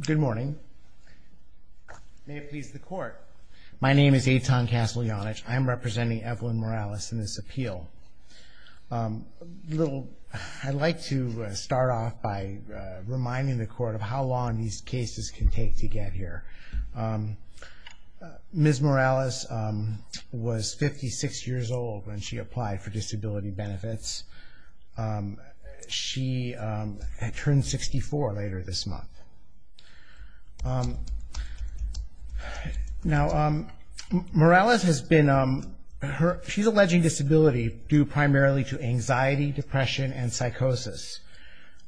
Good morning. May it please the court. My name is Eitan Kaslianich. I'm representing Evelyn Morales in this appeal. I'd like to start off by reminding the court of how long these cases can take to get here. Ms. Morales was 56 years old when she applied for disability benefits. She turned 64 later this month. Now, Morales has been, she's alleging disability due primarily to anxiety, depression, and psychosis.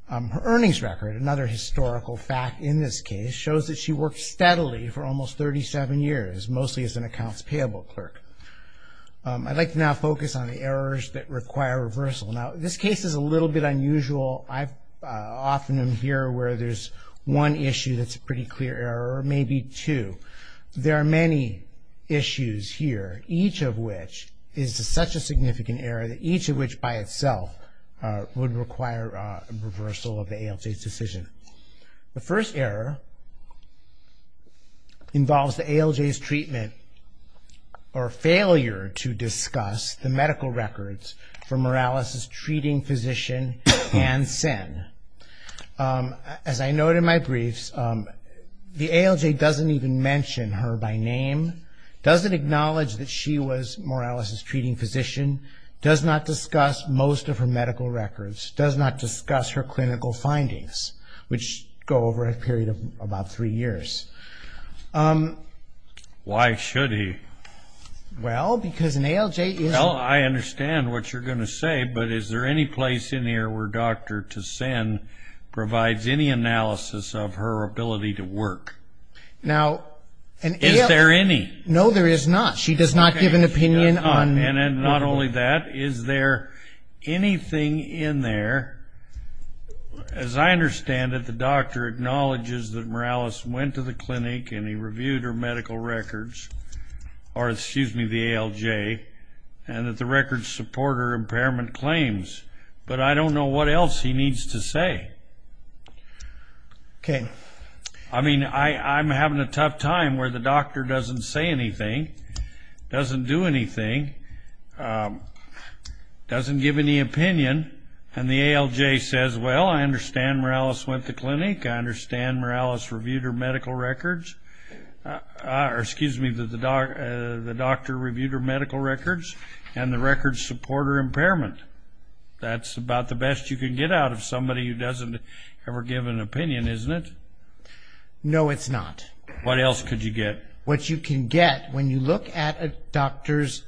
Her earnings record, another historical fact in this case, shows that she worked steadily for almost 37 years, mostly as an accounts payable clerk. I'd like to now focus on the errors that require reversal. Now, this case is a little bit unusual. I often am here where there's one issue that's a pretty clear error or maybe two. There are many issues here, each of which is such a significant error that each of which by itself would require a reversal of the ALJ's decision. The first error involves the ALJ's treatment or failure to discuss the medical records for Morales' treating physician and SIN. As I noted in my briefs, the ALJ doesn't even mention her by name, doesn't acknowledge that she was Morales' treating physician, does not discuss most of her medical records, does not discuss her clinical findings. Which go over a period of about three years. Why should he? Well, because an ALJ is... Well, I understand what you're going to say, but is there any place in here where Dr. Tassin provides any analysis of her ability to work? Now, an ALJ... Is there any? No, there is not. She does not give an opinion on... I mean, I'm having a tough time where the doctor doesn't say anything, doesn't do anything, doesn't give any opinion, and the ALJ says, Well, I understand Morales went to clinic, I understand Morales reviewed her medical records, or excuse me, the doctor reviewed her medical records, and the records support her impairment. That's about the best you can get out of somebody who doesn't ever give an opinion, isn't it? No, it's not. What else could you get? What you can get when you look at a doctor's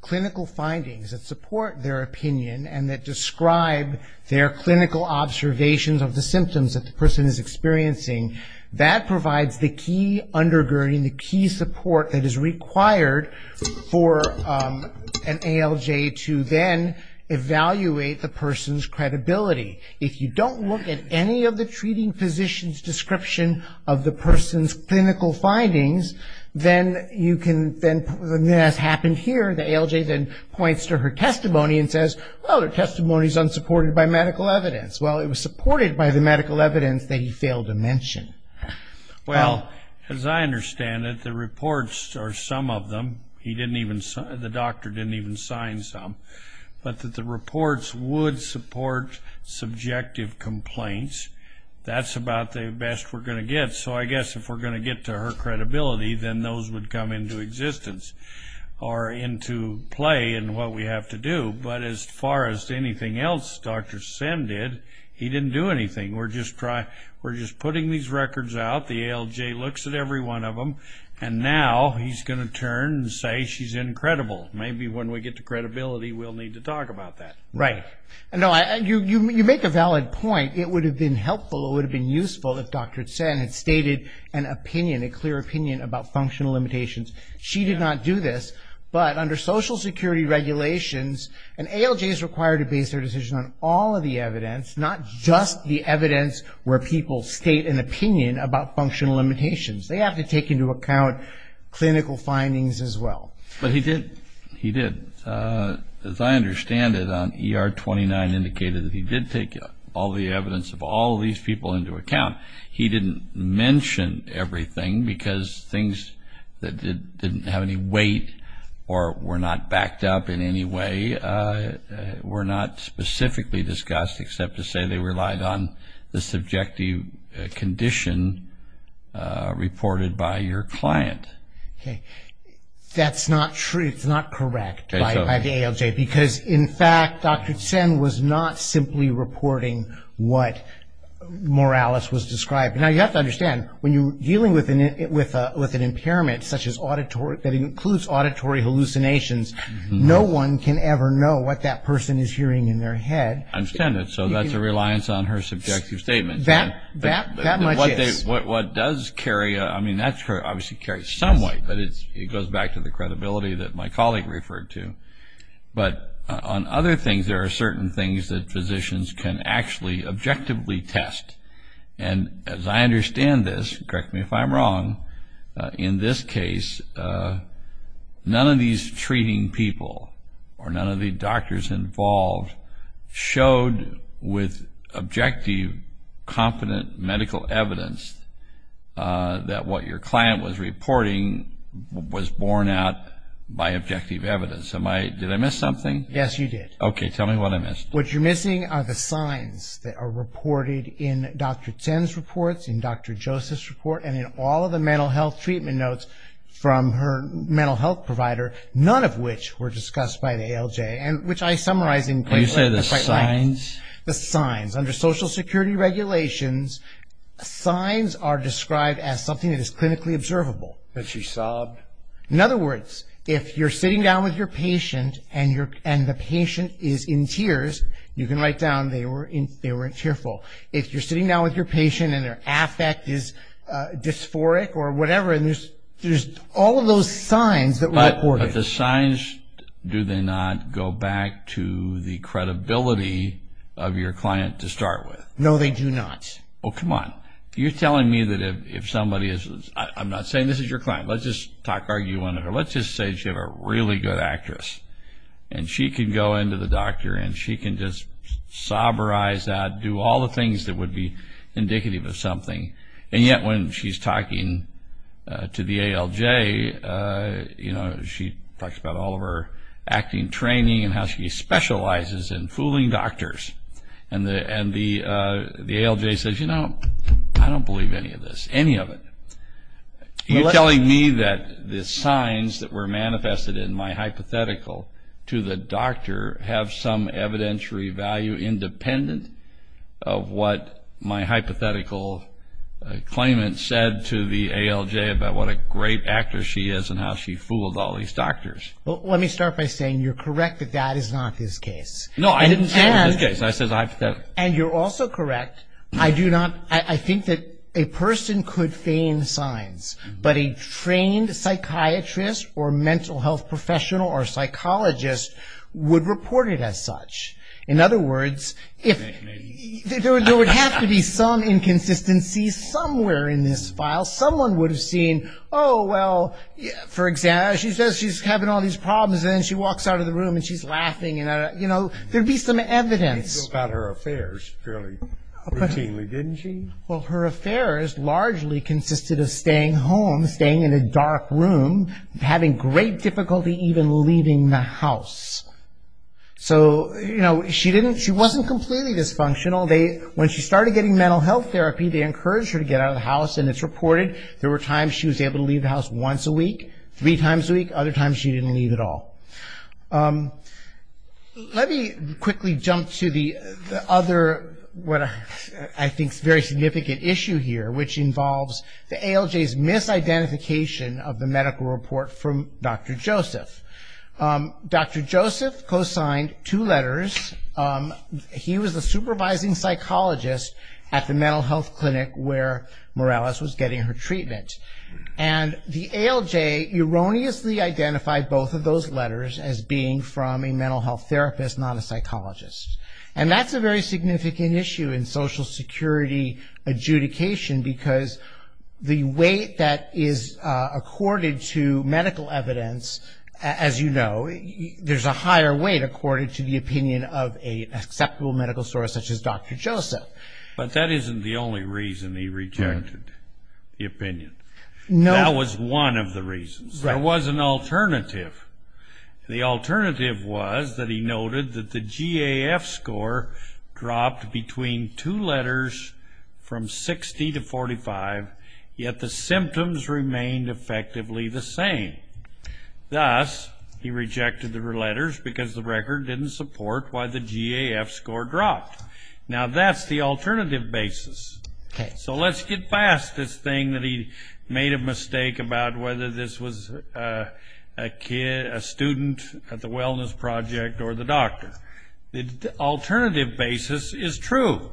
clinical findings that support their opinion and that describe their clinical observations of the symptoms that the person is experiencing, that provides the key undergirding, the key support that is required for an ALJ to then evaluate the person's credibility. If you don't look at any of the treating physician's description of the person's clinical findings, then you can... Then, as happened here, the ALJ then points to her testimony and says, Well, her testimony is unsupported by medical evidence. Well, it was supported by the medical evidence that he failed to mention. Well, as I understand it, the reports are some of them. He didn't even... The doctor didn't even sign some. But the reports would support subjective complaints. That's about the best we're going to get. So I guess if we're going to get to her credibility, then those would come into existence or into play in what we have to do. But as far as anything else Dr. Sim did, he didn't do anything. We're just putting these records out. The ALJ looks at every one of them. And now he's going to turn and say she's incredible. Maybe when we get to credibility, we'll need to talk about that. Right. No, you make a valid point. It would have been helpful, it would have been useful if Dr. Tseng had stated an opinion, a clear opinion about functional limitations. She did not do this. But under Social Security regulations, an ALJ is required to base their decision on all of the evidence, not just the evidence where people state an opinion about functional limitations. They have to take into account clinical findings as well. But he did. He did. As I understand it, ER 29 indicated that he did take all the evidence of all these people into account. He didn't mention everything because things that didn't have any weight or were not backed up in any way were not specifically discussed except to say they relied on the subjective condition reported by your client. Okay. That's not true. It's not correct by the ALJ. Okay. Because, in fact, Dr. Tseng was not simply reporting what Morales was describing. Now, you have to understand, when you're dealing with an impairment such as auditory, that includes auditory hallucinations, no one can ever know what that person is hearing in their head. I understand that. So that's a reliance on her subjective statement. That much is. What does carry, I mean, that obviously carries some weight, but it goes back to the credibility that my colleague referred to. But on other things, there are certain things that physicians can actually objectively test. And as I understand this, correct me if I'm wrong, in this case, none of these treating people or none of the doctors involved showed with objective, competent medical evidence that what your client was reporting was borne out by objective evidence. Did I miss something? Yes, you did. Okay, tell me what I missed. What you're missing are the signs that are reported in Dr. Tseng's reports, in Dr. Joseph's report, and in all of the mental health treatment notes from her mental health provider, none of which were discussed by the ALJ, and which I summarized in quite a way. Can you say the signs? The signs. Under Social Security regulations, signs are described as something that is clinically observable. That she sobbed. In other words, if you're sitting down with your patient and the patient is in tears, you can write down they weren't tearful. If you're sitting down with your patient and their affect is dysphoric or whatever, there's all of those signs that were reported. But the signs, do they not go back to the credibility of your client to start with? No, they do not. Oh, come on. You're telling me that if somebody is, I'm not saying this is your client. Let's just argue under her. Let's just say she's a really good actress, and she can go into the doctor, and she can just sob her eyes out, do all the things that would be indicative of something, and yet when she's talking to the ALJ, she talks about all of her acting training and how she specializes in fooling doctors. And the ALJ says, you know, I don't believe any of this, any of it. You're telling me that the signs that were manifested in my hypothetical to the doctor have some evidentiary value independent of what my hypothetical claimant said to the ALJ about what a great actor she is and how she fooled all these doctors? Well, let me start by saying you're correct that that is not his case. No, I didn't say it was his case. I said it was hypothetical. And you're also correct, I do not, I think that a person could feign signs, but a trained psychiatrist or mental health professional or psychologist would report it as such. In other words, there would have to be some inconsistency somewhere in this file. Someone would have seen, oh, well, for example, she says she's having all these problems, and then she walks out of the room, and she's laughing. You know, there would be some evidence. She talked about her affairs fairly routinely, didn't she? Well, her affairs largely consisted of staying home, staying in a dark room, having great difficulty even leaving the house. So, you know, she wasn't completely dysfunctional. When she started getting mental health therapy, they encouraged her to get out of the house, and it's reported there were times she was able to leave the house once a week, three times a week, other times she didn't leave at all. Let me quickly jump to the other, what I think is a very significant issue here, which involves the ALJ's misidentification of the medical report from Dr. Joseph. Dr. Joseph co-signed two letters. He was the supervising psychologist at the mental health clinic where Morales was getting her treatment. And the ALJ erroneously identified both of those letters as being from a mental health therapist, not a psychologist. And that's a very significant issue in Social Security adjudication, because the weight that is accorded to medical evidence, as you know, there's a higher weight accorded to the opinion of an acceptable medical source such as Dr. Joseph. But that isn't the only reason he rejected the opinion. That was one of the reasons. There was an alternative. The alternative was that he noted that the GAF score dropped between two letters from 60 to 45, yet the symptoms remained effectively the same. Thus, he rejected the letters because the record didn't support why the GAF score dropped. Now, that's the alternative basis. So let's get past this thing that he made a mistake about whether this was a student at the wellness project or the doctor. The alternative basis is true.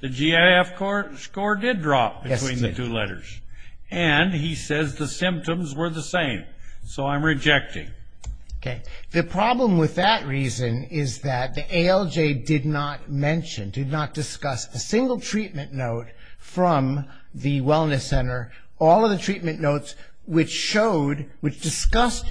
The GAF score did drop between the two letters. And he says the symptoms were the same. So I'm rejecting. Okay. The problem with that reason is that the ALJ did not mention, did not discuss a single treatment note from the wellness center, all of the treatment notes which showed, which discussed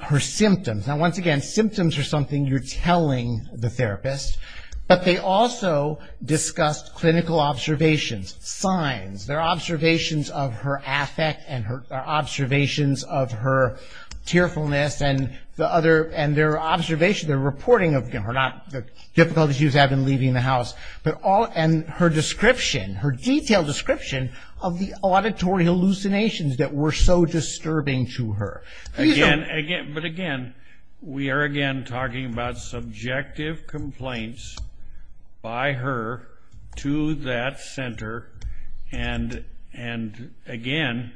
her symptoms. Now, once again, symptoms are something you're telling the therapist. But they also discussed clinical observations, signs. Their observations of her affect and her observations of her tearfulness and the other, and their observation, their reporting of, you know, not the difficulty she was having leaving the house, but all, and her description, her detailed description of the auditory hallucinations that were so disturbing to her. But, again, we are, again, talking about subjective complaints by her to that center. And, again,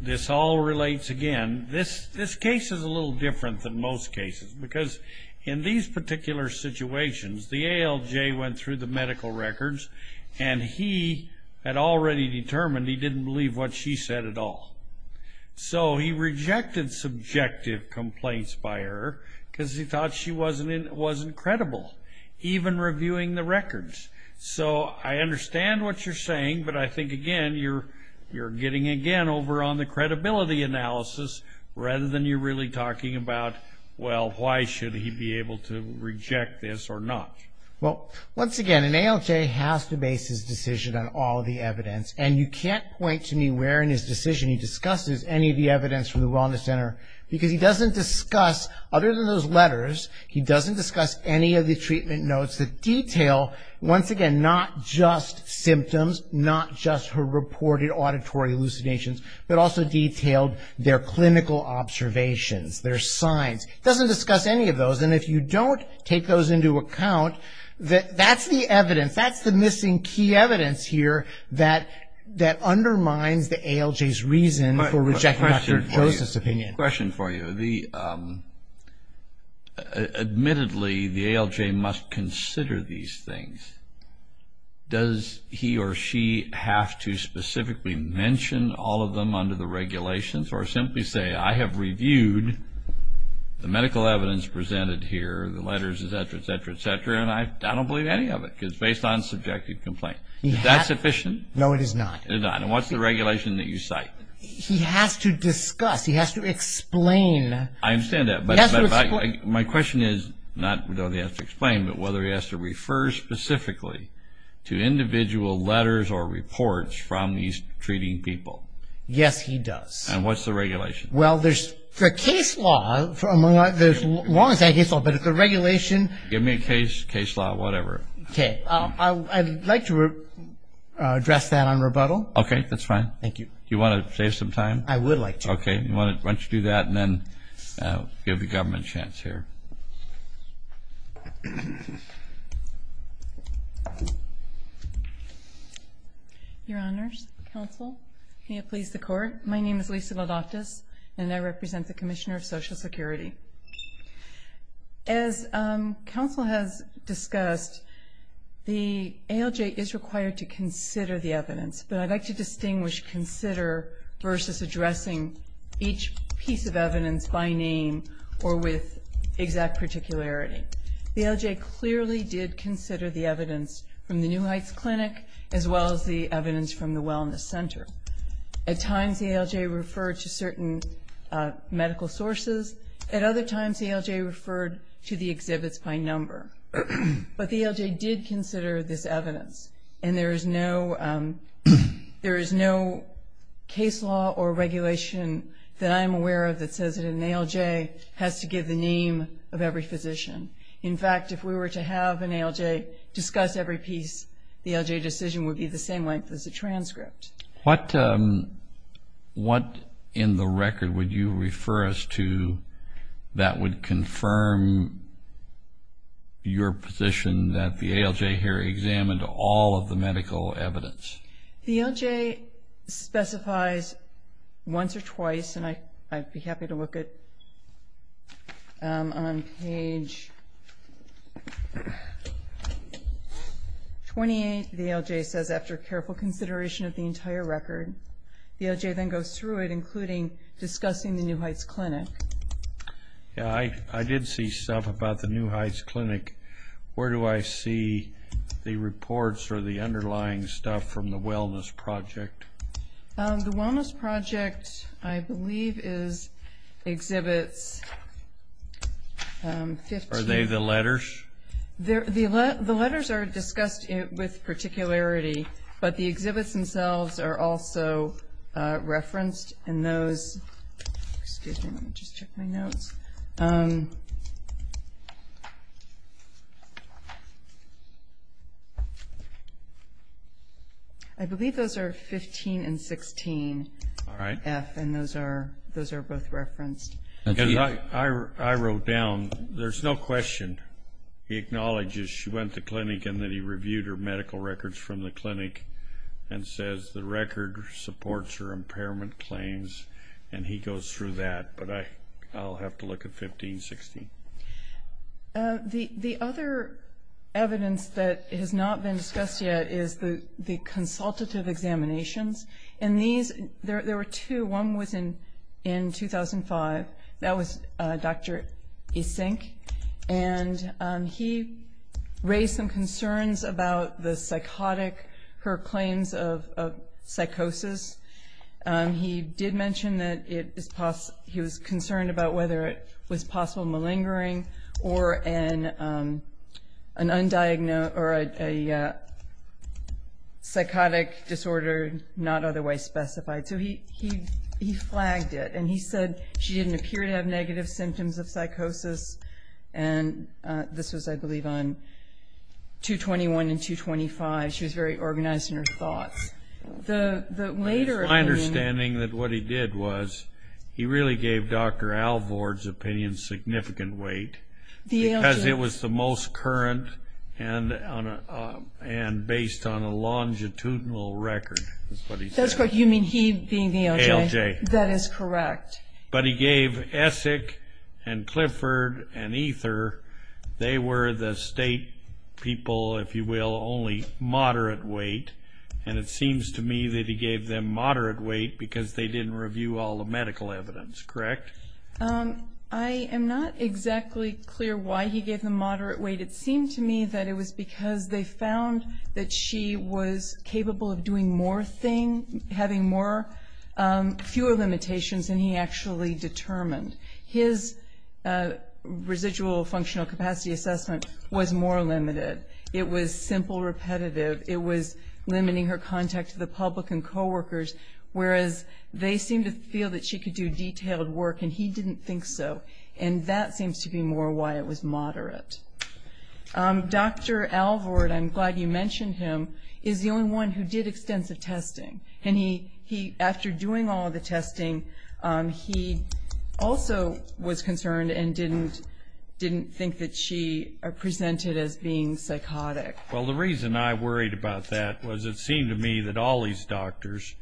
this all relates, again, this case is a little different than most cases. Because in these particular situations, the ALJ went through the medical records, and he had already determined he didn't believe what she said at all. So he rejected subjective complaints by her because he thought she wasn't credible, even reviewing the records. So I understand what you're saying, but I think, again, you're getting, again, over on the credibility analysis, rather than you're really talking about, well, why should he be able to reject this or not. Well, once again, an ALJ has to base his decision on all the evidence. And you can't point to me where in his decision he discusses any of the evidence from the Wellness Center. Because he doesn't discuss, other than those letters, he doesn't discuss any of the treatment notes that detail, once again, not just symptoms, not just her reported auditory hallucinations, but also detailed their clinical observations, their signs. He doesn't discuss any of those. And if you don't take those into account, that's the evidence, that's the missing key evidence here that undermines the ALJ's reason for rejecting Dr. Joseph's opinion. Question for you. Admittedly, the ALJ must consider these things. Does he or she have to specifically mention all of them under the regulations, or simply say, I have reviewed the medical evidence presented here, the letters, et cetera, et cetera, et cetera, and I don't believe any of it, because it's based on subjective complaint. Is that sufficient? No, it is not. It is not. And what's the regulation that you cite? He has to discuss. He has to explain. I understand that. He has to explain. My question is, not whether he has to explain, but whether he has to refer specifically to individual letters or reports from these treating people. Yes, he does. And what's the regulation? Well, there's the case law. The law is not a case law, but it's the regulation. Give me a case law, whatever. Okay. I'd like to address that on rebuttal. Okay, that's fine. Thank you. Do you want to save some time? I would like to. Okay. Why don't you do that, and then give the government a chance here. Your Honors, Counsel, may it please the Court. My name is Lisa Lodatis, and I represent the Commissioner of Social Security. As Counsel has discussed, the ALJ is required to consider the evidence, but I'd like to distinguish consider versus addressing each piece of evidence by name or with exact particularity. The ALJ clearly did consider the evidence from the New Heights Clinic, as well as the evidence from the Wellness Center. At times, the ALJ referred to certain medical sources. At other times, the ALJ referred to the exhibits by number. But the ALJ did consider this evidence, and there is no case law or regulation that I'm aware of that says that an ALJ has to give the name of every physician. In fact, if we were to have an ALJ discuss every piece, the ALJ decision would be the same length as a transcript. What in the record would you refer us to that would confirm your position that the ALJ here examined all of the medical evidence? The ALJ specifies once or twice, and I'd be happy to look at it. Page 28, the ALJ says, after careful consideration of the entire record. The ALJ then goes through it, including discussing the New Heights Clinic. I did see stuff about the New Heights Clinic. Where do I see the reports or the underlying stuff from the wellness project? The wellness project, I believe, is exhibits 15. Are they the letters? The letters are discussed with particularity, but the exhibits themselves are also referenced in those. Excuse me, let me just check my notes. I believe those are 15 and 16, F, and those are both referenced. I wrote down, there's no question. He acknowledges she went to clinic and that he reviewed her medical records from the clinic and says the record supports her impairment claims, and he goes through that. But I'll have to look at 15, 16. The other evidence that has not been discussed yet is the consultative examinations. And these, there were two. One was in 2005. That was Dr. Isink, and he raised some concerns about the psychotic, her claims of psychosis. He did mention that he was concerned about whether it was possible malingering or a psychotic disorder not otherwise specified. So he flagged it, and he said she didn't appear to have negative symptoms of psychosis. And this was, I believe, on 2-21 and 2-25. She was very organized in her thoughts. My understanding that what he did was he really gave Dr. Alvord's opinion significant weight because it was the most current and based on a longitudinal record. That's correct. You mean he being the ALJ? ALJ. That is correct. But he gave Essek and Clifford and Ether, they were the state people, if you will, only moderate weight, and it seems to me that he gave them moderate weight because they didn't review all the medical evidence, correct? I am not exactly clear why he gave them moderate weight. It seemed to me that it was because they found that she was capable of doing more things, having fewer limitations than he actually determined. His residual functional capacity assessment was more limited. It was simple, repetitive. It was limiting her contact to the public and coworkers, whereas they seemed to feel that she could do detailed work, and he didn't think so. And that seems to be more why it was moderate. Dr. Alvord, I'm glad you mentioned him, is the only one who did extensive testing. And he, after doing all the testing, he also was concerned and didn't think that she presented as being psychotic. Well, the reason I worried about that was it seemed to me that all these doctors,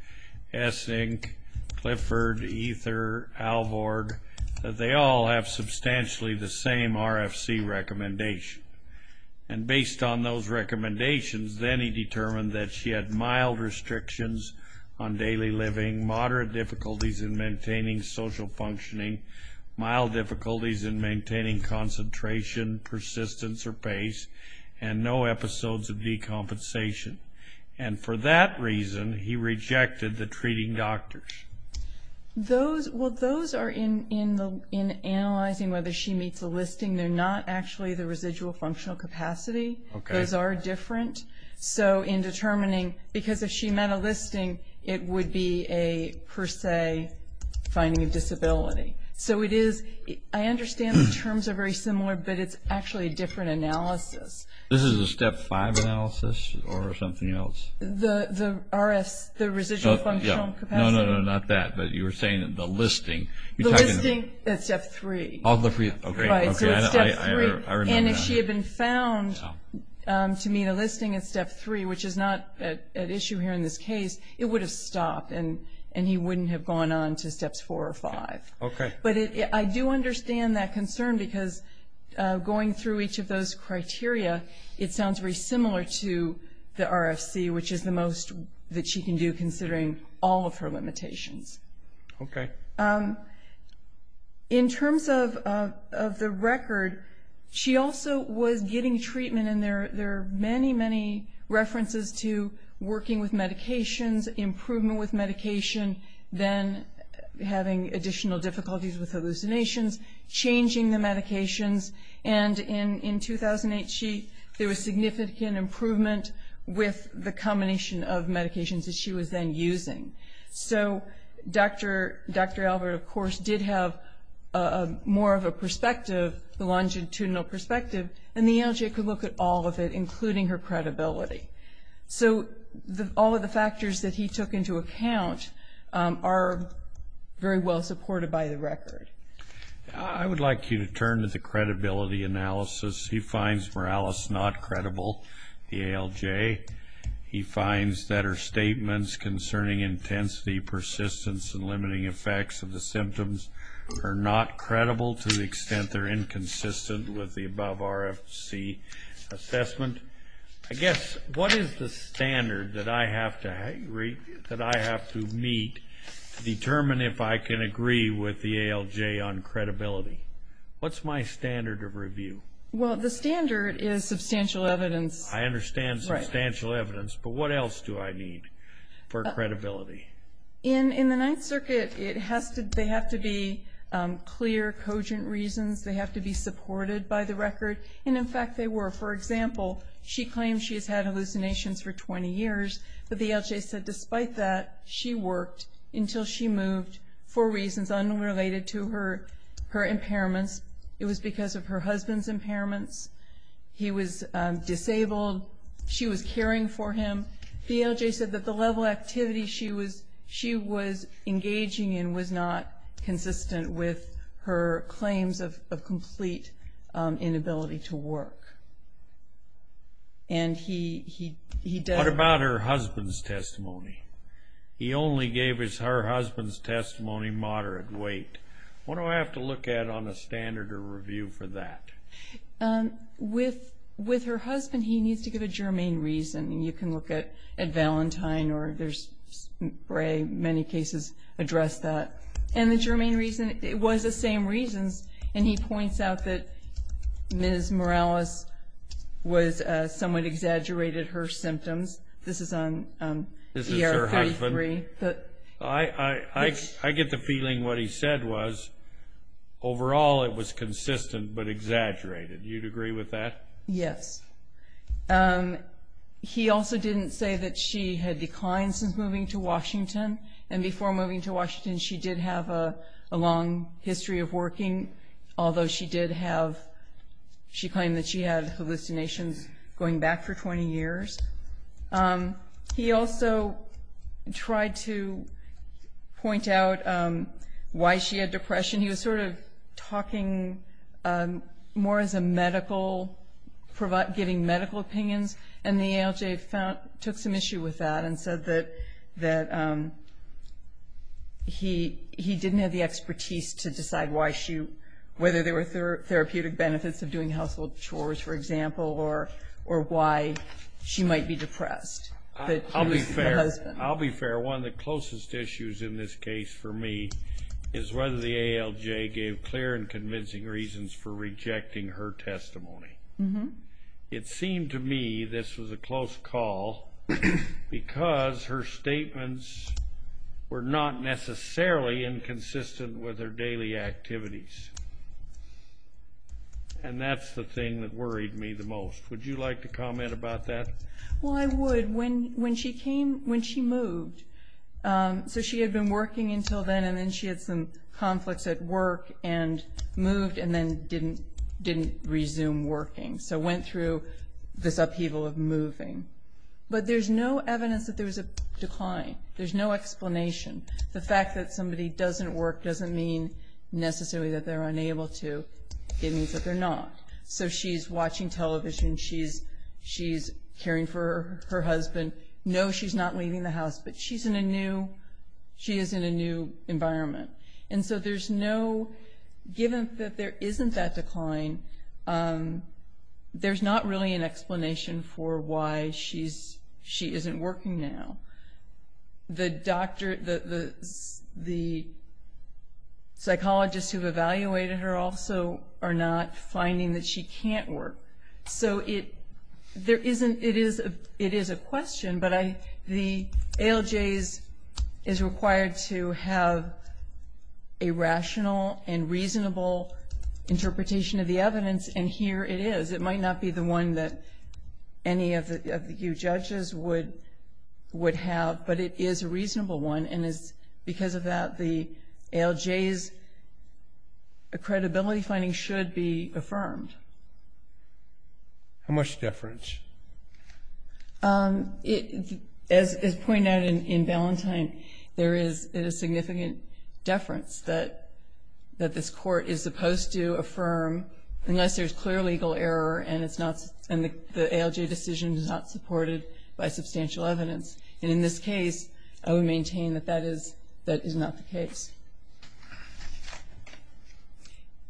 Essek, Clifford, Ether, Alvord, that they all have substantially the same RFC recommendation. And based on those recommendations, then he determined that she had mild restrictions on daily living, moderate difficulties in maintaining social functioning, mild difficulties in maintaining concentration, persistence, or pace, and no episodes of decompensation. And for that reason, he rejected the treating doctors. Well, those are in analyzing whether she meets the listing. They're not actually the residual functional capacity. Those are different. So in determining, because if she met a listing, it would be a, per se, finding a disability. So it is, I understand the terms are very similar, but it's actually a different analysis. This is a Step 5 analysis or something else? The RS, the residual functional capacity. No, no, no, not that. But you were saying the listing. The listing at Step 3. Right, so at Step 3. And if she had been found to meet a listing at Step 3, which is not at issue here in this case, it would have stopped and he wouldn't have gone on to Steps 4 or 5. Okay. But I do understand that concern because going through each of those criteria, it sounds very similar to the RFC, which is the most that she can do considering all of her limitations. Okay. In terms of the record, she also was getting treatment, and there are many, many references to working with medications, improvement with medication, then having additional difficulties with hallucinations, changing the medications. And in 2008, there was significant improvement with the combination of medications that she was then using. So Dr. Albert, of course, did have more of a perspective, a longitudinal perspective, and the ALJ could look at all of it, including her credibility. So all of the factors that he took into account are very well supported by the record. I would like you to turn to the credibility analysis. He finds Morales not credible, the ALJ. He finds that her statements concerning intensity, persistence, and limiting effects of the symptoms are not credible to the extent they're inconsistent with the above RFC assessment. I guess what is the standard that I have to meet to determine if I can agree with the ALJ on credibility? What's my standard of review? Well, the standard is substantial evidence. I understand substantial evidence, but what else do I need for credibility? In the Ninth Circuit, they have to be clear, cogent reasons. They have to be supported by the record, and, in fact, they were. For example, she claims she has had hallucinations for 20 years, but the ALJ said, despite that, she worked until she moved for reasons unrelated to her impairments. It was because of her husband's impairments. He was disabled. She was caring for him. The ALJ said that the level of activity she was engaging in was not consistent with her claims of complete inability to work, and he does. What about her husband's testimony? He only gave her husband's testimony moderate weight. What do I have to look at on a standard of review for that? With her husband, he needs to give a germane reason, and you can look at Valentine or there's many cases address that. And the germane reason was the same reasons, and he points out that Ms. Morales was somewhat exaggerated her symptoms. This is on ER-33. I get the feeling what he said was, overall, it was consistent but exaggerated. You'd agree with that? Yes. He also didn't say that she had declined since moving to Washington, and before moving to Washington she did have a long history of working, although she did have she claimed that she had hallucinations going back for 20 years. He also tried to point out why she had depression. He was sort of talking more as a medical, giving medical opinions, and the ALJ took some issue with that and said that he didn't have the expertise to decide whether there were therapeutic benefits of doing household chores, for example, or why she might be depressed. I'll be fair. One of the closest issues in this case for me is whether the ALJ gave clear and convincing reasons for rejecting her testimony. It seemed to me this was a close call because her statements were not necessarily inconsistent with her daily activities, and that's the thing that worried me the most. Would you like to comment about that? Well, I would. When she moved, so she had been working until then, and then she had some conflicts at work and moved and then didn't resume working, so went through this upheaval of moving. But there's no evidence that there was a decline. There's no explanation. The fact that somebody doesn't work doesn't mean necessarily that they're unable to. It means that they're not. So she's watching television, she's caring for her husband. No, she's not leaving the house, but she is in a new environment. And so there's no, given that there isn't that decline, there's not really an explanation for why she isn't working now. The psychologist who evaluated her also are not finding that she can't work. So it is a question, but the ALJ is required to have a rational and reasonable interpretation of the evidence, and here it is. It might not be the one that any of you judges would have, but it is a reasonable one. And because of that, the ALJ's credibility finding should be affirmed. How much deference? As pointed out in Ballantyne, there is a significant deference that this court is supposed to affirm, unless there's clear legal error and the ALJ decision is not supported by substantial evidence. And in this case, I would maintain that that is not the case.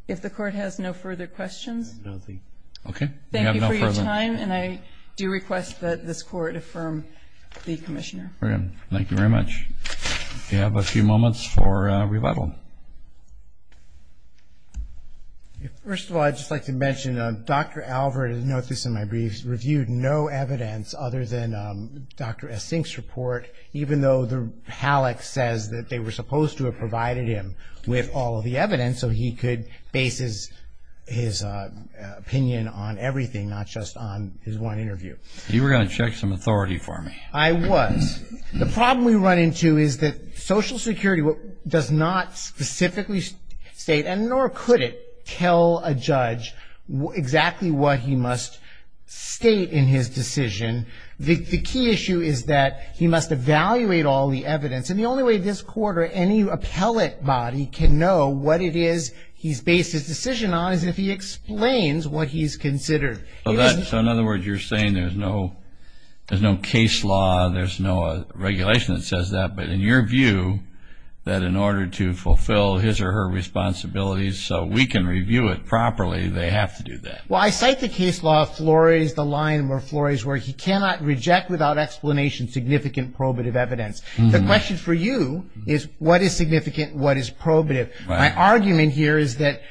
If the Court has no further questions, thank you for your time, and I do request that this Court affirm the Commissioner. Thank you very much. We have a few moments for rebuttal. First of all, I'd just like to mention Dr. Alvord, and note this in my briefs, reviewed no evidence other than Dr. Essink's report, even though the HALAC says that they were supposed to have provided him with all of the evidence so he could base his opinion on everything, not just on his one interview. You were going to check some authority for me. I was. The problem we run into is that Social Security does not specifically state, and nor could it tell a judge exactly what he must state in his decision. The key issue is that he must evaluate all the evidence, and the only way this Court or any appellate body can know what it is he's based his decision on is if he explains what he's considered. So in other words, you're saying there's no case law, there's no regulation that says that, but in your view, that in order to fulfill his or her responsibilities so we can review it properly, they have to do that. Well, I cite the case law of Flores, the line where Flores, where he cannot reject without explanation significant probative evidence. The question for you is what is significant, what is probative. My argument here is that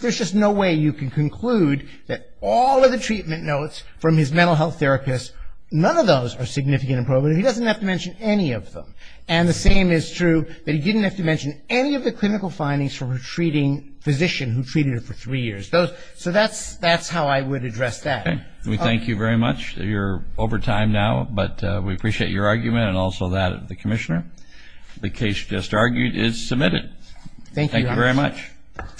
there's just no way you can conclude that all of the treatment notes from his mental health therapist, none of those are significant and probative. He doesn't have to mention any of them. And the same is true that he didn't have to mention any of the clinical findings from a treating physician who treated him for three years. So that's how I would address that. Okay. We thank you very much. You're over time now, but we appreciate your argument and also that of the Commissioner. The case just argued is submitted. Thank you, Your Honor. Thank you very much.